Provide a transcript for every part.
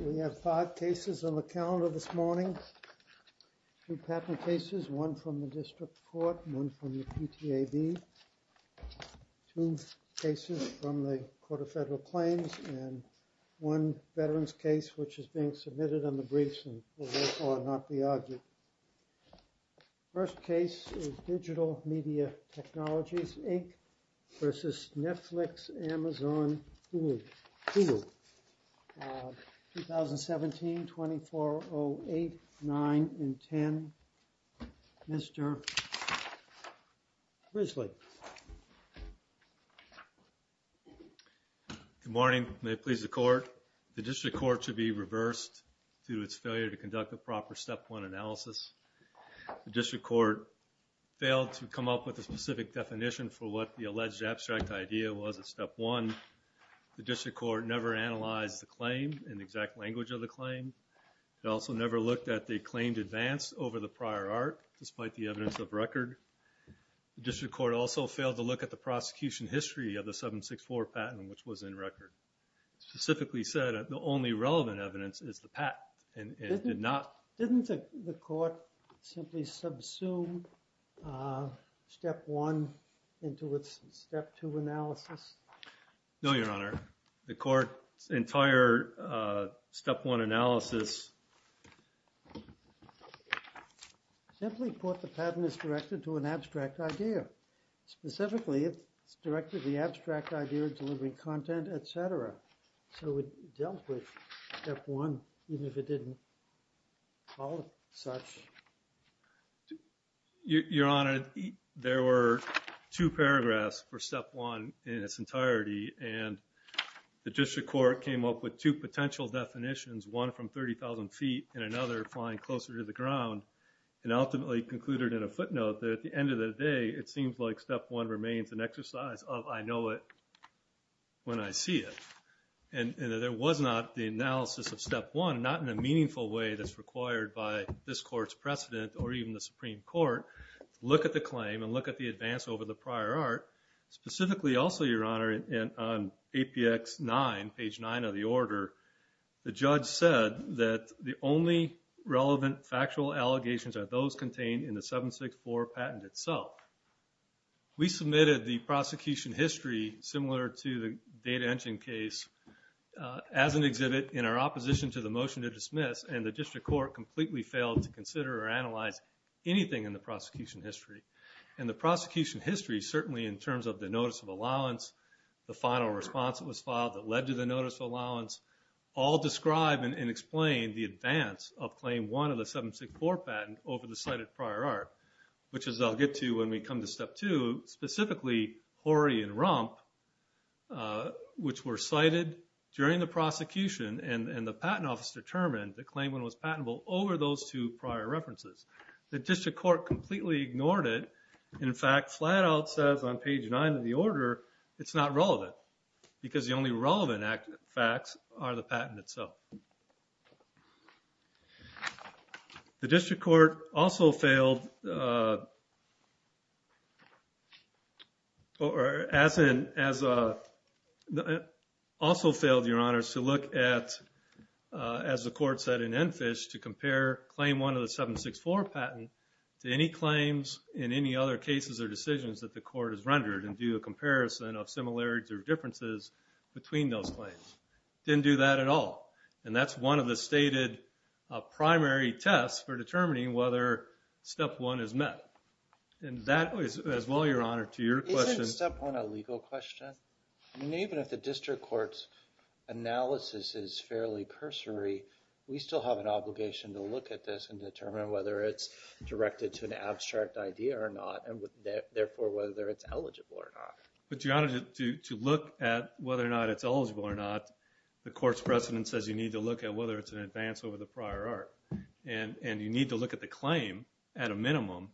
We have five cases on the calendar this morning, two patent cases, one from the district court, one from the PTAB, two cases from the Court of Federal Claims, and one veterans case which is being submitted on the briefs and will therefore not be argued. First case is Digital Media Technologies, Inc. v. Netflix, Amazon, Hulu. 2017-2408, 9 and 10. Mr. Risley. Good morning. May it please the court. The district court should be reversed due to its failure to conduct a proper Step 1 analysis. The district court failed to come up with a specific definition for what the alleged abstract idea was at Step 1. The district court never analyzed the claim in the exact language of the claim. It also never looked at the claimed advance over the prior art despite the evidence of record. The district court also failed to look at the prosecution history of the 764 patent which was in record. It specifically said that the only relevant evidence is the patent and it did not. Didn't the court simply subsume Step 1 into its Step 2 analysis? No, Your Honor. The court's entire Step 1 analysis simply put the patent is directed to an abstract idea. Specifically, it's directed to the abstract idea of delivering content, etc. So it dealt with Step 1 even if it didn't call it such. Your Honor, there were two paragraphs for Step 1 in its entirety and the district court came up with two potential definitions, one from 30,000 feet and another flying closer to the ground and ultimately concluded in a footnote that at the end of the day it seems like Step 1 remains an exercise of I know it when I see it. And there was not the analysis of Step 1, not in a meaningful way that's required by this court's precedent or even the Supreme Court to look at the claim and look at the advance over the prior art. Specifically also, Your Honor, on APX 9, page 9 of the order, the judge said that the only relevant factual allegations are those contained in the 764 patent itself. We submitted the prosecution history similar to the data engine case as an exhibit in our opposition to the motion to dismiss and the district court completely failed to consider or analyze anything in the prosecution history. And the prosecution history certainly in terms of the notice of allowance, the final response that was filed that led to the notice of allowance, all describe and explain the advance of Claim 1 of the 764 patent over the cited prior art, which is I'll get to when we come to Step 2, specifically Horry and Rump, which were cited during the prosecution and the patent office determined the claimant was patentable over those two prior references. The district court completely ignored it. In fact, flat out says on page 9 of the order, it's not relevant because the only relevant facts are the patent itself. The district court also failed, or as in, also failed, Your Honors, to look at, as the court said in Enfish, to compare Claim 1 of the 764 patent to any claims in any other cases or decisions that the court has rendered and do a comparison of similarities or differences between those claims. Didn't do that at all. And that's one of the stated primary tests for determining whether Step 1 is met. And that is as well, Your Honor, to your question. Is Step 1 a legal question? I mean, even if the district court's analysis is fairly cursory, we still have an obligation to look at this and determine whether it's directed to an abstract idea or not, and therefore whether it's eligible or not. But, Your Honor, to look at whether or not it's eligible or not, the court's precedent says you need to look at whether it's an advance over the prior art. And you need to look at the claim at a minimum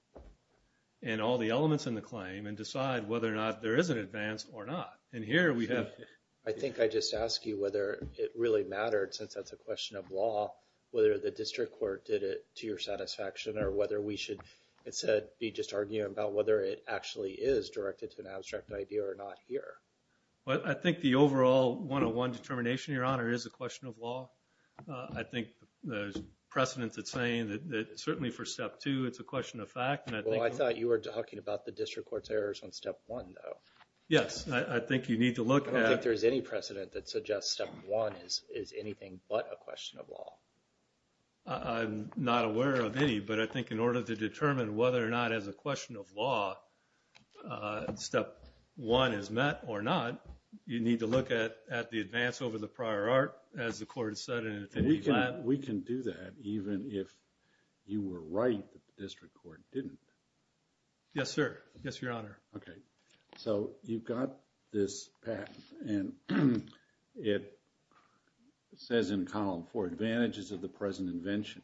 and all the elements in the claim and decide whether or not there is an advance or not. And here we have... I think I just asked you whether it really mattered, since that's a question of law, whether the district court did it to your satisfaction or whether we should, instead, be just arguing about whether it actually is directed to an abstract idea or not here. Well, I think the overall 101 determination, Your Honor, is a question of law. I think the precedent is saying that certainly for Step 2, it's a question of fact. Well, I thought you were talking about the district court's errors on Step 1, though. Yes, I think you need to look at... I don't think there's any precedent that suggests Step 1 is anything but a question of law. I'm not aware of any, but I think in order to determine whether or not, as a question of law, Step 1 is met or not, you need to look at the advance over the prior art, as the court said. We can do that even if you were right that the district court didn't. Yes, sir. Yes, Your Honor. Okay. So, you've got this patent and it says in column 4, advantages of the present invention,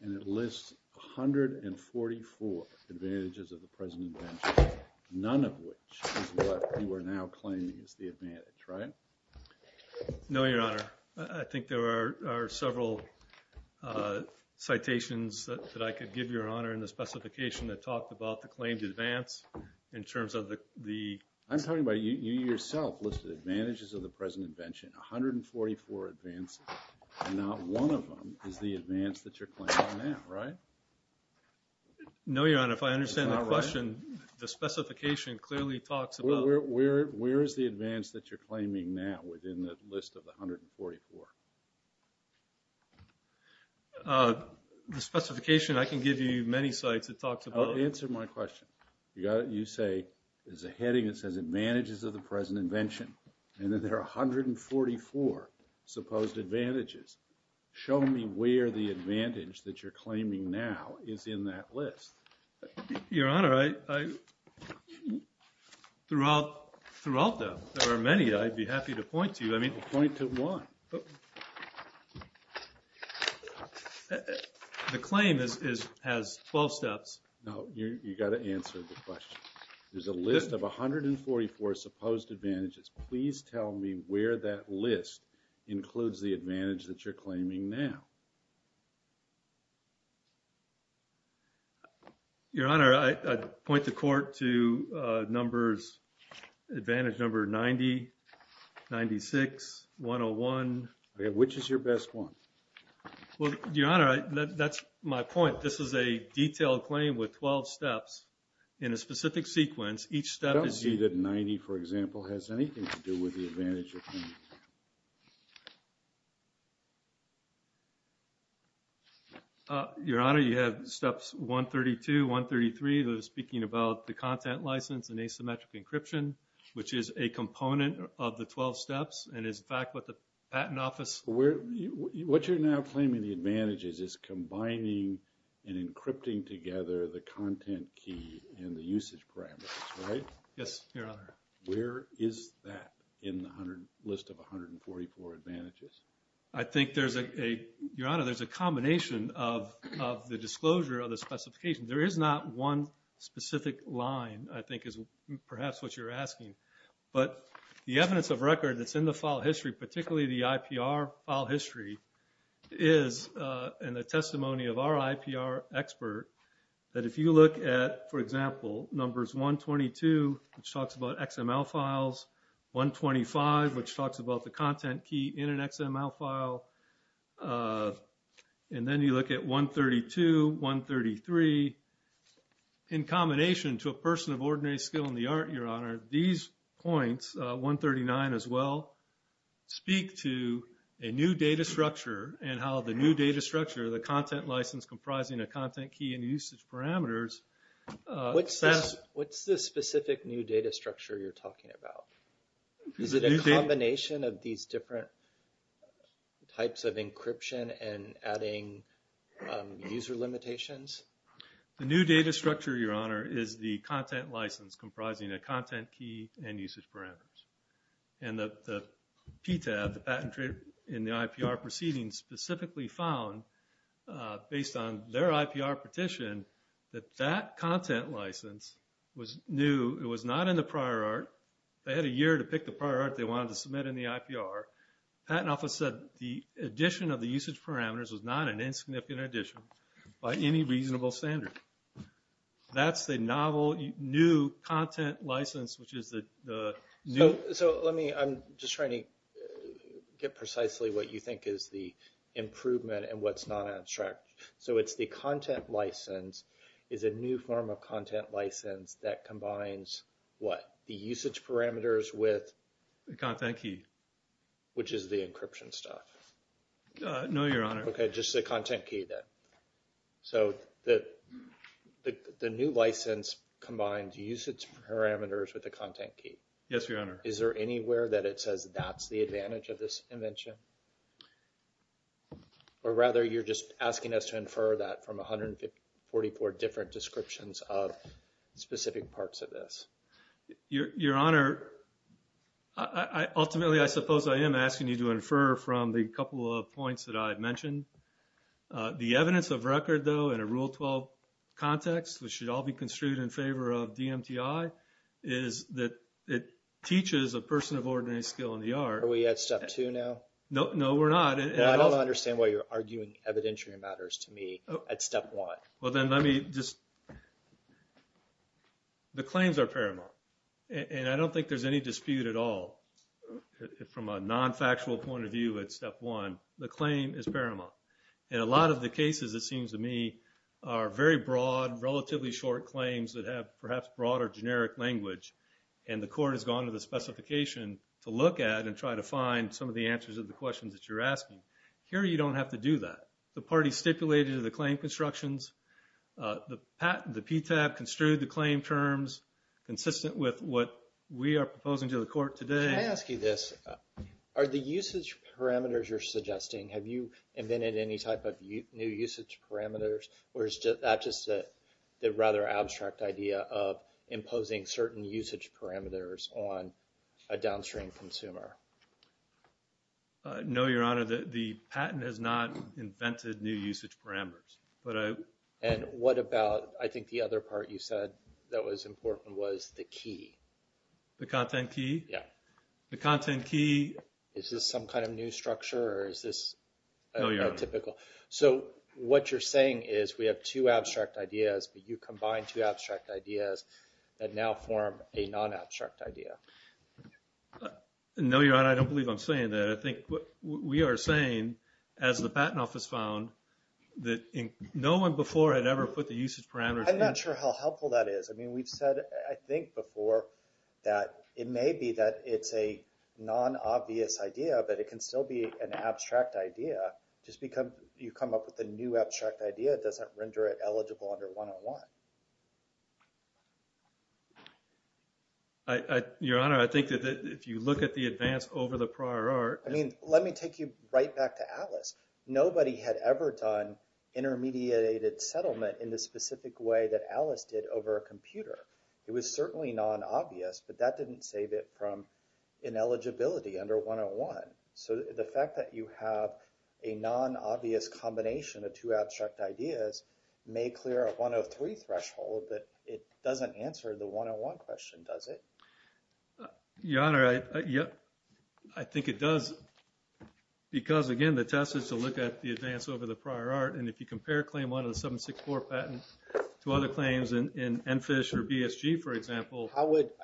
and it lists 144 advantages of the present invention, none of which is what you are now claiming is the advantage, right? No, Your Honor. I think there are several citations that I could give, Your Honor, in the specification that talked about the claimed advance in terms of the... I'm talking about you yourself listed advantages of the present invention, 144 advances, and not one of them is the advance that you're claiming now, right? No, Your Honor. If I understand the question, the specification clearly talks about... Where is the advance that you're claiming now within the list of 144? The specification I can give you many sites that talks about... Answer my question. You say there's a heading that says advantages of the present invention, and that there are 144 supposed advantages. Show me where the advantage that you're claiming now is in that list. Your Honor, throughout them, there are many. I'd be happy to point to you. Point to one. The claim has 12 steps. No, you've got to answer the question. There's a list of 144 supposed advantages. Please tell me where that list includes the advantage that you're claiming now. Your Honor, I'd point the court to numbers, advantage number 90, 96, 101. Which is your best one? Well, Your Honor, that's my point. This is a detailed claim with 12 steps in a specific sequence. Each step is... I don't see that 90, for example, has anything to do with the advantage you're claiming. Your Honor, you have steps 132, 133, that are speaking about the content license and asymmetric encryption, which is a component of the 12 steps, and is in fact what the patent office... What you're now claiming the advantage is combining and encrypting together the content key and the usage parameters, right? Yes, Your Honor. Where is that in the 100 list of advantages? I think there's a... Your Honor, there's a combination of the disclosure of the specification. There is not one specific line, I think is perhaps what you're asking. But the evidence of record that's in the file history, particularly the IPR file history, is in the testimony of our IPR expert, that if you look at, for example, numbers 122, which talks about XML files, 125, which talks about the content key in an XML file, and then you look at 132, 133, in combination to a person of ordinary skill in the art, Your Honor, these points, 139 as well, speak to a new data structure and how the new data structure, the content license comprising a content key and usage parameters... What's the specific new data structure you're talking about? Is it a combination of these different types of encryption and adding user limitations? The new data structure, Your Honor, is the content license comprising a content key and usage parameters. And the PTAB, the patent trader in the IPR proceedings, specifically found based on their IPR petition that that content license was new. It was not in the prior art. They had a year to pick the prior art they wanted to submit in the IPR. The patent office said the addition of the usage parameters was not an insignificant addition by any reasonable standard. That's the novel new content license, which is the new... So let me... I'm just trying to get precisely what you think is the improvement and what's not abstract. So it's the content license is a new form of content license that combines what? The usage parameters with... The content key. Which is the encryption stuff. No, Your Honor. Okay, just the content key then. So the new license combines usage parameters with the content key. Yes, Your Honor. Is there anywhere that it says that's the advantage of this invention? Or rather, you're just asking us to infer that from 144 different descriptions of specific parts of this. Your Honor, ultimately I suppose I am asking you to infer from the couple of points that I've mentioned. The evidence of record, though, in a Rule 12 context, which should all be construed in favor of DMTI, is that it teaches a person of ordinary skill in the art... Are we at Step 2 now? No, we're not. I don't understand why you're arguing evidentiary matters to me at Step 1. Well, then let me just... The claims are paramount. And I don't think there's any dispute at all from a non-factual point of view at Step 1. The claim is paramount. And a lot of the cases, it seems to me, are very broad, relatively short claims that have perhaps broader generic language. And the Court has gone to the specification to look at and try to find some of the answers of the questions that you're asking. Here, you don't have to do that. The parties stipulated to the claim constructions. The PTAB construed the claim terms consistent with what we are proposing to the Court today. Can I ask you this? Are the usage parameters you're suggesting... Have you invented any type of new usage parameters? Or is that just the rather abstract idea of imposing certain usage parameters on a downstream consumer? No, Your Honor. The patent has not invented new usage parameters. And what about... I think the other part you said that was important was the key. The content key? Yeah. The content key... Is this some kind of new structure, or is this... No, Your Honor. ...atypical? So what you're saying is we have two abstract ideas, but you combine two abstract ideas that now form a non-abstract idea. No, Your Honor. I don't believe I'm saying that. I think we are saying, as the Patent Office found, that no one before had ever put the usage parameters... I'm not sure how helpful that is. I mean, we've said, I think, before, that it may be that it's a non-obvious idea, but it can still be an abstract idea. Just because you come up with a new abstract idea doesn't render it eligible under 101. Your Honor, I think that if you look at the advance over the prior art... I mean, let me take you right back to Alice. Nobody had ever done intermediated settlement in the specific way that Alice did over a computer. It was certainly non-obvious, but that didn't save it from ineligibility under 101. So the fact that you have a non-obvious combination of two abstract ideas may clear a 103 threshold, but it doesn't answer the 101 question, does it? Your Honor, I think it does, because, again, the test is to look at the advance over the prior art, and if you compare Claim 1 of the 764 patent to other claims in NFISH or BSG, for example...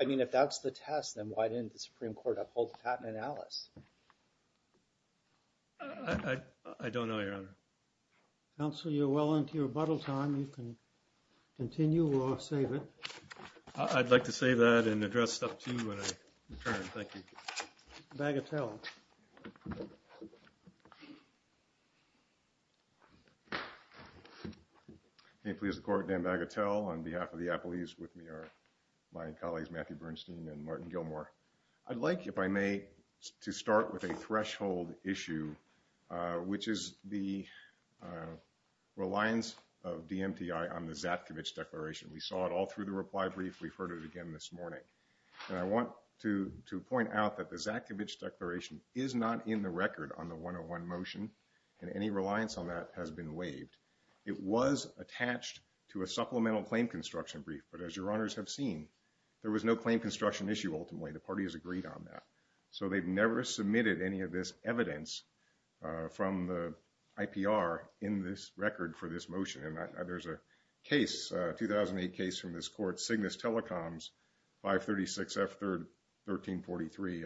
I mean, if that's the test, then why didn't the Supreme Court uphold the patent in Alice? I don't know, Your Honor. Counsel, you're well into your rebuttal time. You can continue or save it. I'd like to save that and address Step 2 when I return. Thank you. Bagatelle. May it please the Court, Dan Bagatelle, on behalf of the appellees with me and my colleagues Matthew Bernstein and Martin Gilmore. I'd like, if I may, to start with a threshold issue, which is the reliance of DMTI on the Zatkovich Declaration. We saw it all through the reply brief. We've heard it again this morning. And I want to point out that the Zatkovich Declaration is not in the record on the 101 motion, and any reliance on that has been waived. It was attached to a supplemental claim construction brief, but as Your Honors have seen, there was no claim construction issue ultimately. The party has agreed on that. So they've never submitted any of this evidence from the IPR in this record for this motion. And there's a case, a 2008 case from this court, Cygnus Telecoms 536F1343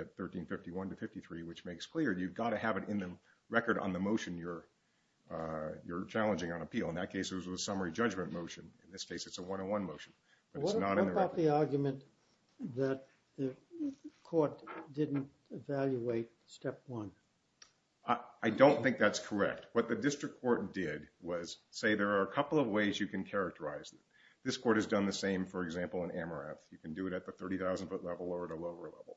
at 1351-53, which makes clear you've got to have it in the record on the motion you're challenging on appeal. In that case, it was a summary judgment motion. In this case, it's a 101 motion, but it's not in the record. What about the argument that the court didn't evaluate step one? I don't think that's correct. What the district court did was say there are a couple of ways you can characterize it. This court has done the same, for example, in AMRAP. You can do it at the 30,000-foot level or at a lower level.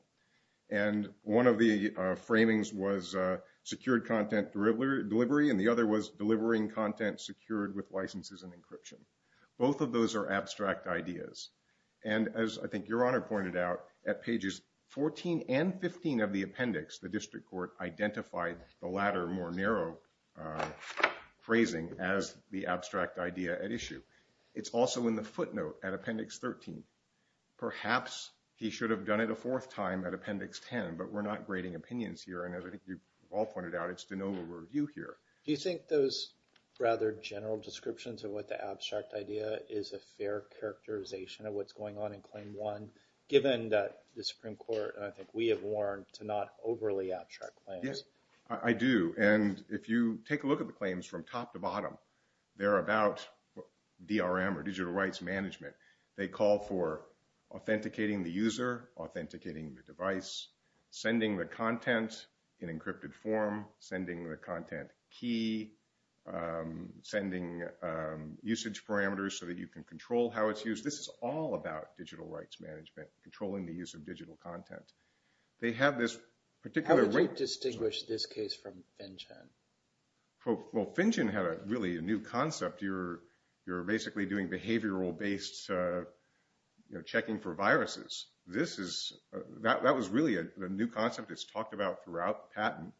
And one of the framings was secured content delivery, and the other was delivering content secured with licenses and encryption. Both of those are abstract ideas. And as I think Your Honor pointed out, at pages 14 and 15 of the appendix, the district court identified the latter, more narrow phrasing, as the abstract idea at issue. It's also in the footnote at appendix 13. Perhaps he should have done it a fourth time at appendix 10, but we're not grading opinions here. And as I think you've all pointed out, it's de novo review here. Do you think those rather general descriptions of what the abstract idea is a fair characterization of what's going on in claim one, given that the Supreme Court, and I think we have warned, to not overly abstract claims? Yes, I do. And if you take a look at the claims from top to bottom, they're about DRM, or digital rights management. They call for authenticating the user, authenticating the device, sending the content in encrypted form, sending the content key, sending usage parameters so that you can control how it's used. This is all about digital rights management, controlling the use of digital content. How would you distinguish this case from FinChen? Well, FinChen had really a new concept. You're basically doing behavioral-based checking for viruses. That was really the new concept that's talked about throughout patent.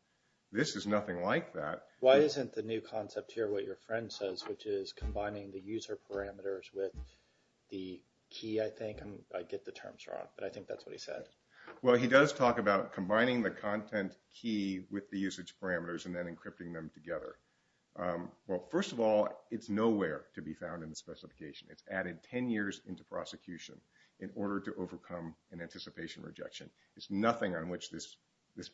This is nothing like that. Why isn't the new concept here what your friend says, which is combining the user parameters with the key, I think? I get the terms wrong, but I think that's what he said. Well, he does talk about combining the content key with the usage parameters and then encrypting them together. Well, first of all, it's nowhere to be found in the specification. It's added 10 years into prosecution in order to overcome an anticipation rejection. There's nothing on which this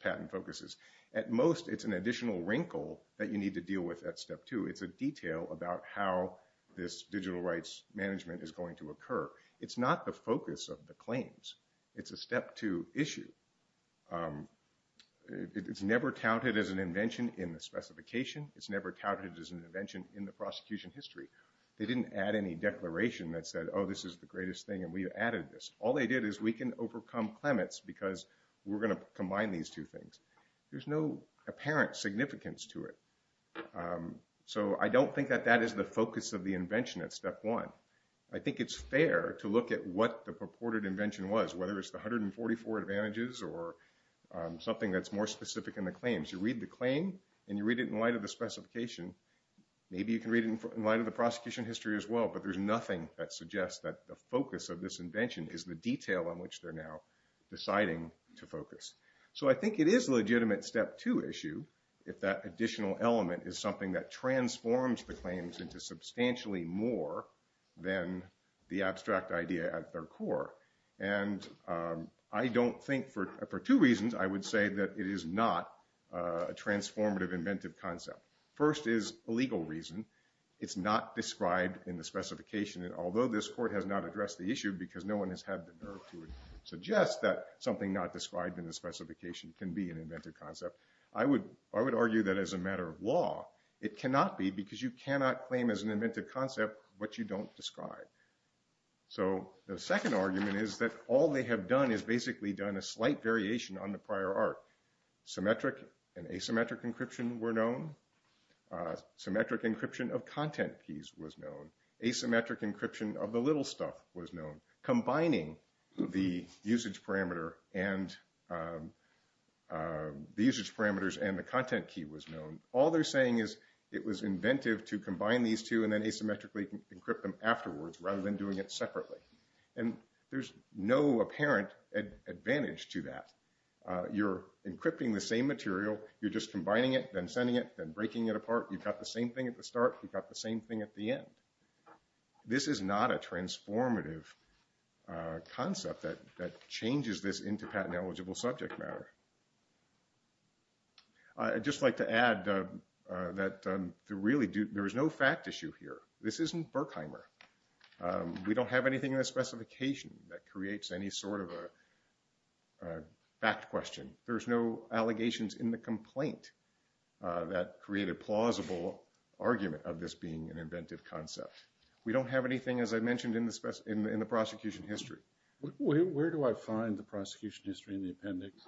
patent focuses. At most, it's an additional wrinkle that you need to deal with at Step 2. It's a detail about how this digital rights management is going to occur. It's not the focus of the claims. It's a Step 2 issue. It's never counted as an invention in the specification. It's never counted as an invention in the prosecution history. They didn't add any declaration that said, oh, this is the greatest thing, and we added this. All they did is we can overcome clements because we're going to combine these two things. There's no apparent significance to it. So I don't think that that is the focus of the invention at Step 1. I think it's fair to look at what the purported invention was, whether it's the 144 advantages or something that's more specific in the claims. You read the claim, and you read it in light of the specification. Maybe you can read it in light of the prosecution history as well, but there's nothing that suggests that the focus of this invention is the detail on which they're now deciding to focus. So I think it is a legitimate Step 2 issue if that additional element is something that transforms the claims into substantially more than the abstract idea at their core. And I don't think, for two reasons, I would say that it is not a transformative inventive concept. First is a legal reason. It's not described in the specification, and although this court has not addressed the issue because no one has had the nerve to suggest that something not described in the specification can be an inventive concept, I would argue that as a matter of law, it cannot be because you cannot claim as an inventive concept what you don't describe. So the second argument is that all they have done is basically done a slight variation on the prior art. Symmetric and asymmetric encryption were known. Symmetric encryption of content keys was known. Asymmetric encryption of the little stuff was known. Combining the usage parameters and the content key was known. All they're saying is it was inventive to combine these two and then asymmetrically encrypt them afterwards rather than doing it separately. And there's no apparent advantage to that. You're encrypting the same material. You're just combining it, then sending it, then breaking it apart. You've got the same thing at the start. You've got the same thing at the end. This is not a transformative concept that changes this into patent-eligible subject matter. I'd just like to add that there is no fact issue here. This isn't Berkheimer. We don't have anything in the specification that creates any sort of a fact question. There's no allegations in the complaint that create a plausible argument of this being an inventive concept. We don't have anything, as I mentioned, in the prosecution history. Where do I find the prosecution history in the appendix?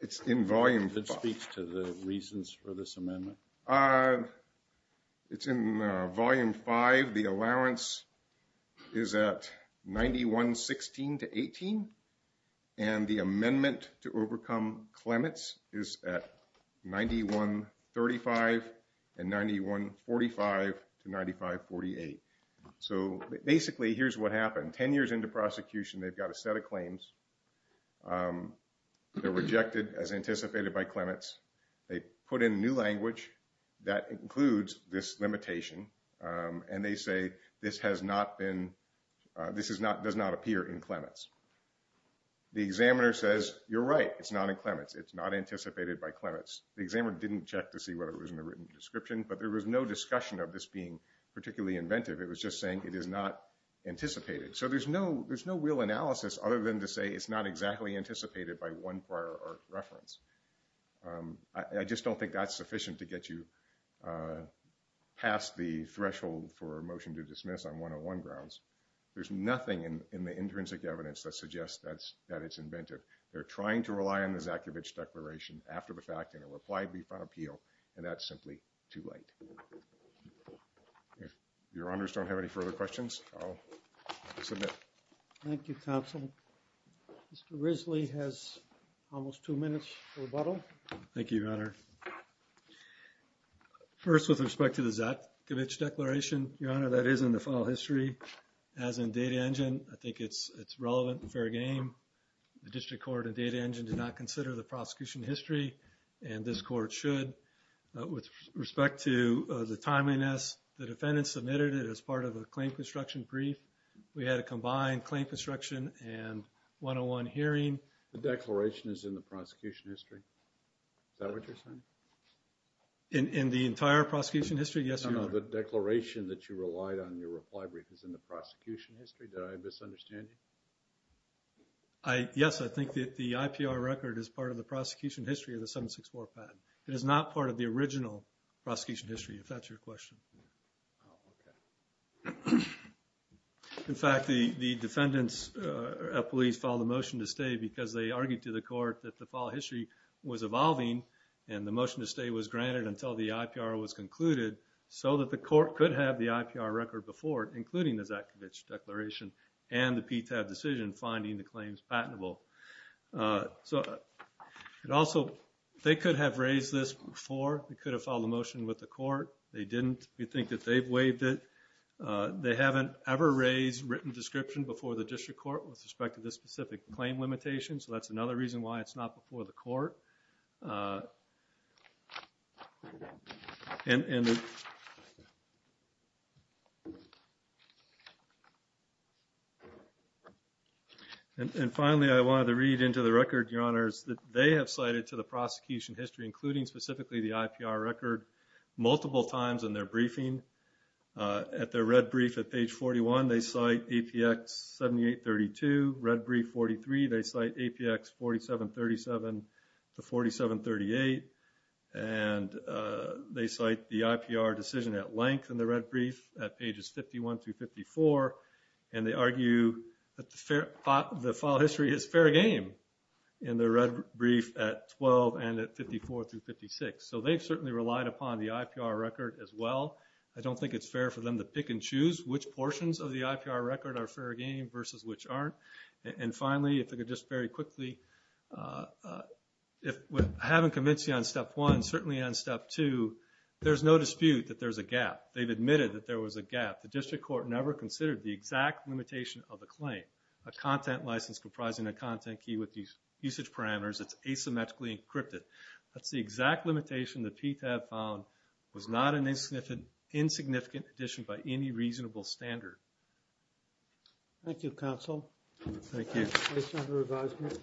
It's in Volume 5. It speaks to the reasons for this amendment? It's in Volume 5. The allowance is at 91-16 to 18. And the amendment to overcome Clements is at 91-35 and 91-45 to 95-48. So basically, here's what happened. Ten years into prosecution, they've got a set of claims. They're rejected as anticipated by Clements. They put in new language that includes this limitation. And they say, this does not appear in Clements. The examiner says, you're right. It's not in Clements. It's not anticipated by Clements. The examiner didn't check to see whether it was in the written description. But there was no discussion of this being particularly inventive. It was just saying it is not anticipated. So there's no real analysis other than to say it's not exactly anticipated by one prior art reference. I just don't think that's sufficient to get you past the threshold for a motion to dismiss on 101 grounds. There's nothing in the intrinsic evidence that suggests that it's inventive. They're trying to rely on the Zakevich Declaration after the fact in a reply before appeal. And that's simply too late. If your honors don't have any further questions, I'll submit. Thank you, counsel. Mr. Risley has almost two minutes for rebuttal. Thank you, your honor. First, with respect to the Zakevich Declaration, your honor, that is in the file history. As in Data Engine, I think it's relevant and fair game. The district court in Data Engine did not consider the prosecution history, and this court should. With respect to the timeliness, the defendant submitted it as part of a claim construction brief. We had a combined claim construction and 101 hearing. The declaration is in the prosecution history. Is that what you're saying? In the entire prosecution history, yes, your honor. No, no, the declaration that you relied on in your reply brief is in the prosecution history. Did I misunderstand you? Yes, I think that the IPR record is part of the prosecution history of the 764 patent. It is not part of the original prosecution history, if that's your question. Oh, okay. In fact, the defendants at police filed a motion to stay because they argued to the court that the file history was evolving and the motion to stay was granted until the IPR was concluded so that the court could have the IPR record before it, including the Zakevich Declaration and the PTAB decision finding the claims patentable. Also, they could have raised this before. They could have filed a motion with the court. They didn't. We think that they've waived it. They haven't ever raised written description before the district court with respect to this specific claim limitation, so that's another reason why it's not before the court. Finally, I wanted to read into the record, your honors, that they have cited to the prosecution history, including specifically the IPR record, multiple times in their briefing. At their red brief at page 41, they cite APX 7832. Red brief 43, they cite APX 4737 to 4738, and they cite the IPR decision at length in the red brief at pages 51 through 54, and they argue that the file history is fair game in the red brief at 12 and at 54 through 56. So they've certainly relied upon the IPR record as well. I don't think it's fair for them to pick and choose which portions of the IPR record are fair game versus which aren't. And finally, if I could just very quickly, having convinced you on step one, certainly on step two, there's no dispute that there's a gap. They've admitted that there was a gap. The district court never considered the exact limitation of the claim. A content license comprising a content key with usage parameters, it's asymmetrically encrypted. That's the exact limitation that PTAB found was not an insignificant addition by any reasonable standard. Thank you, counsel. Thank you. Any further advisement?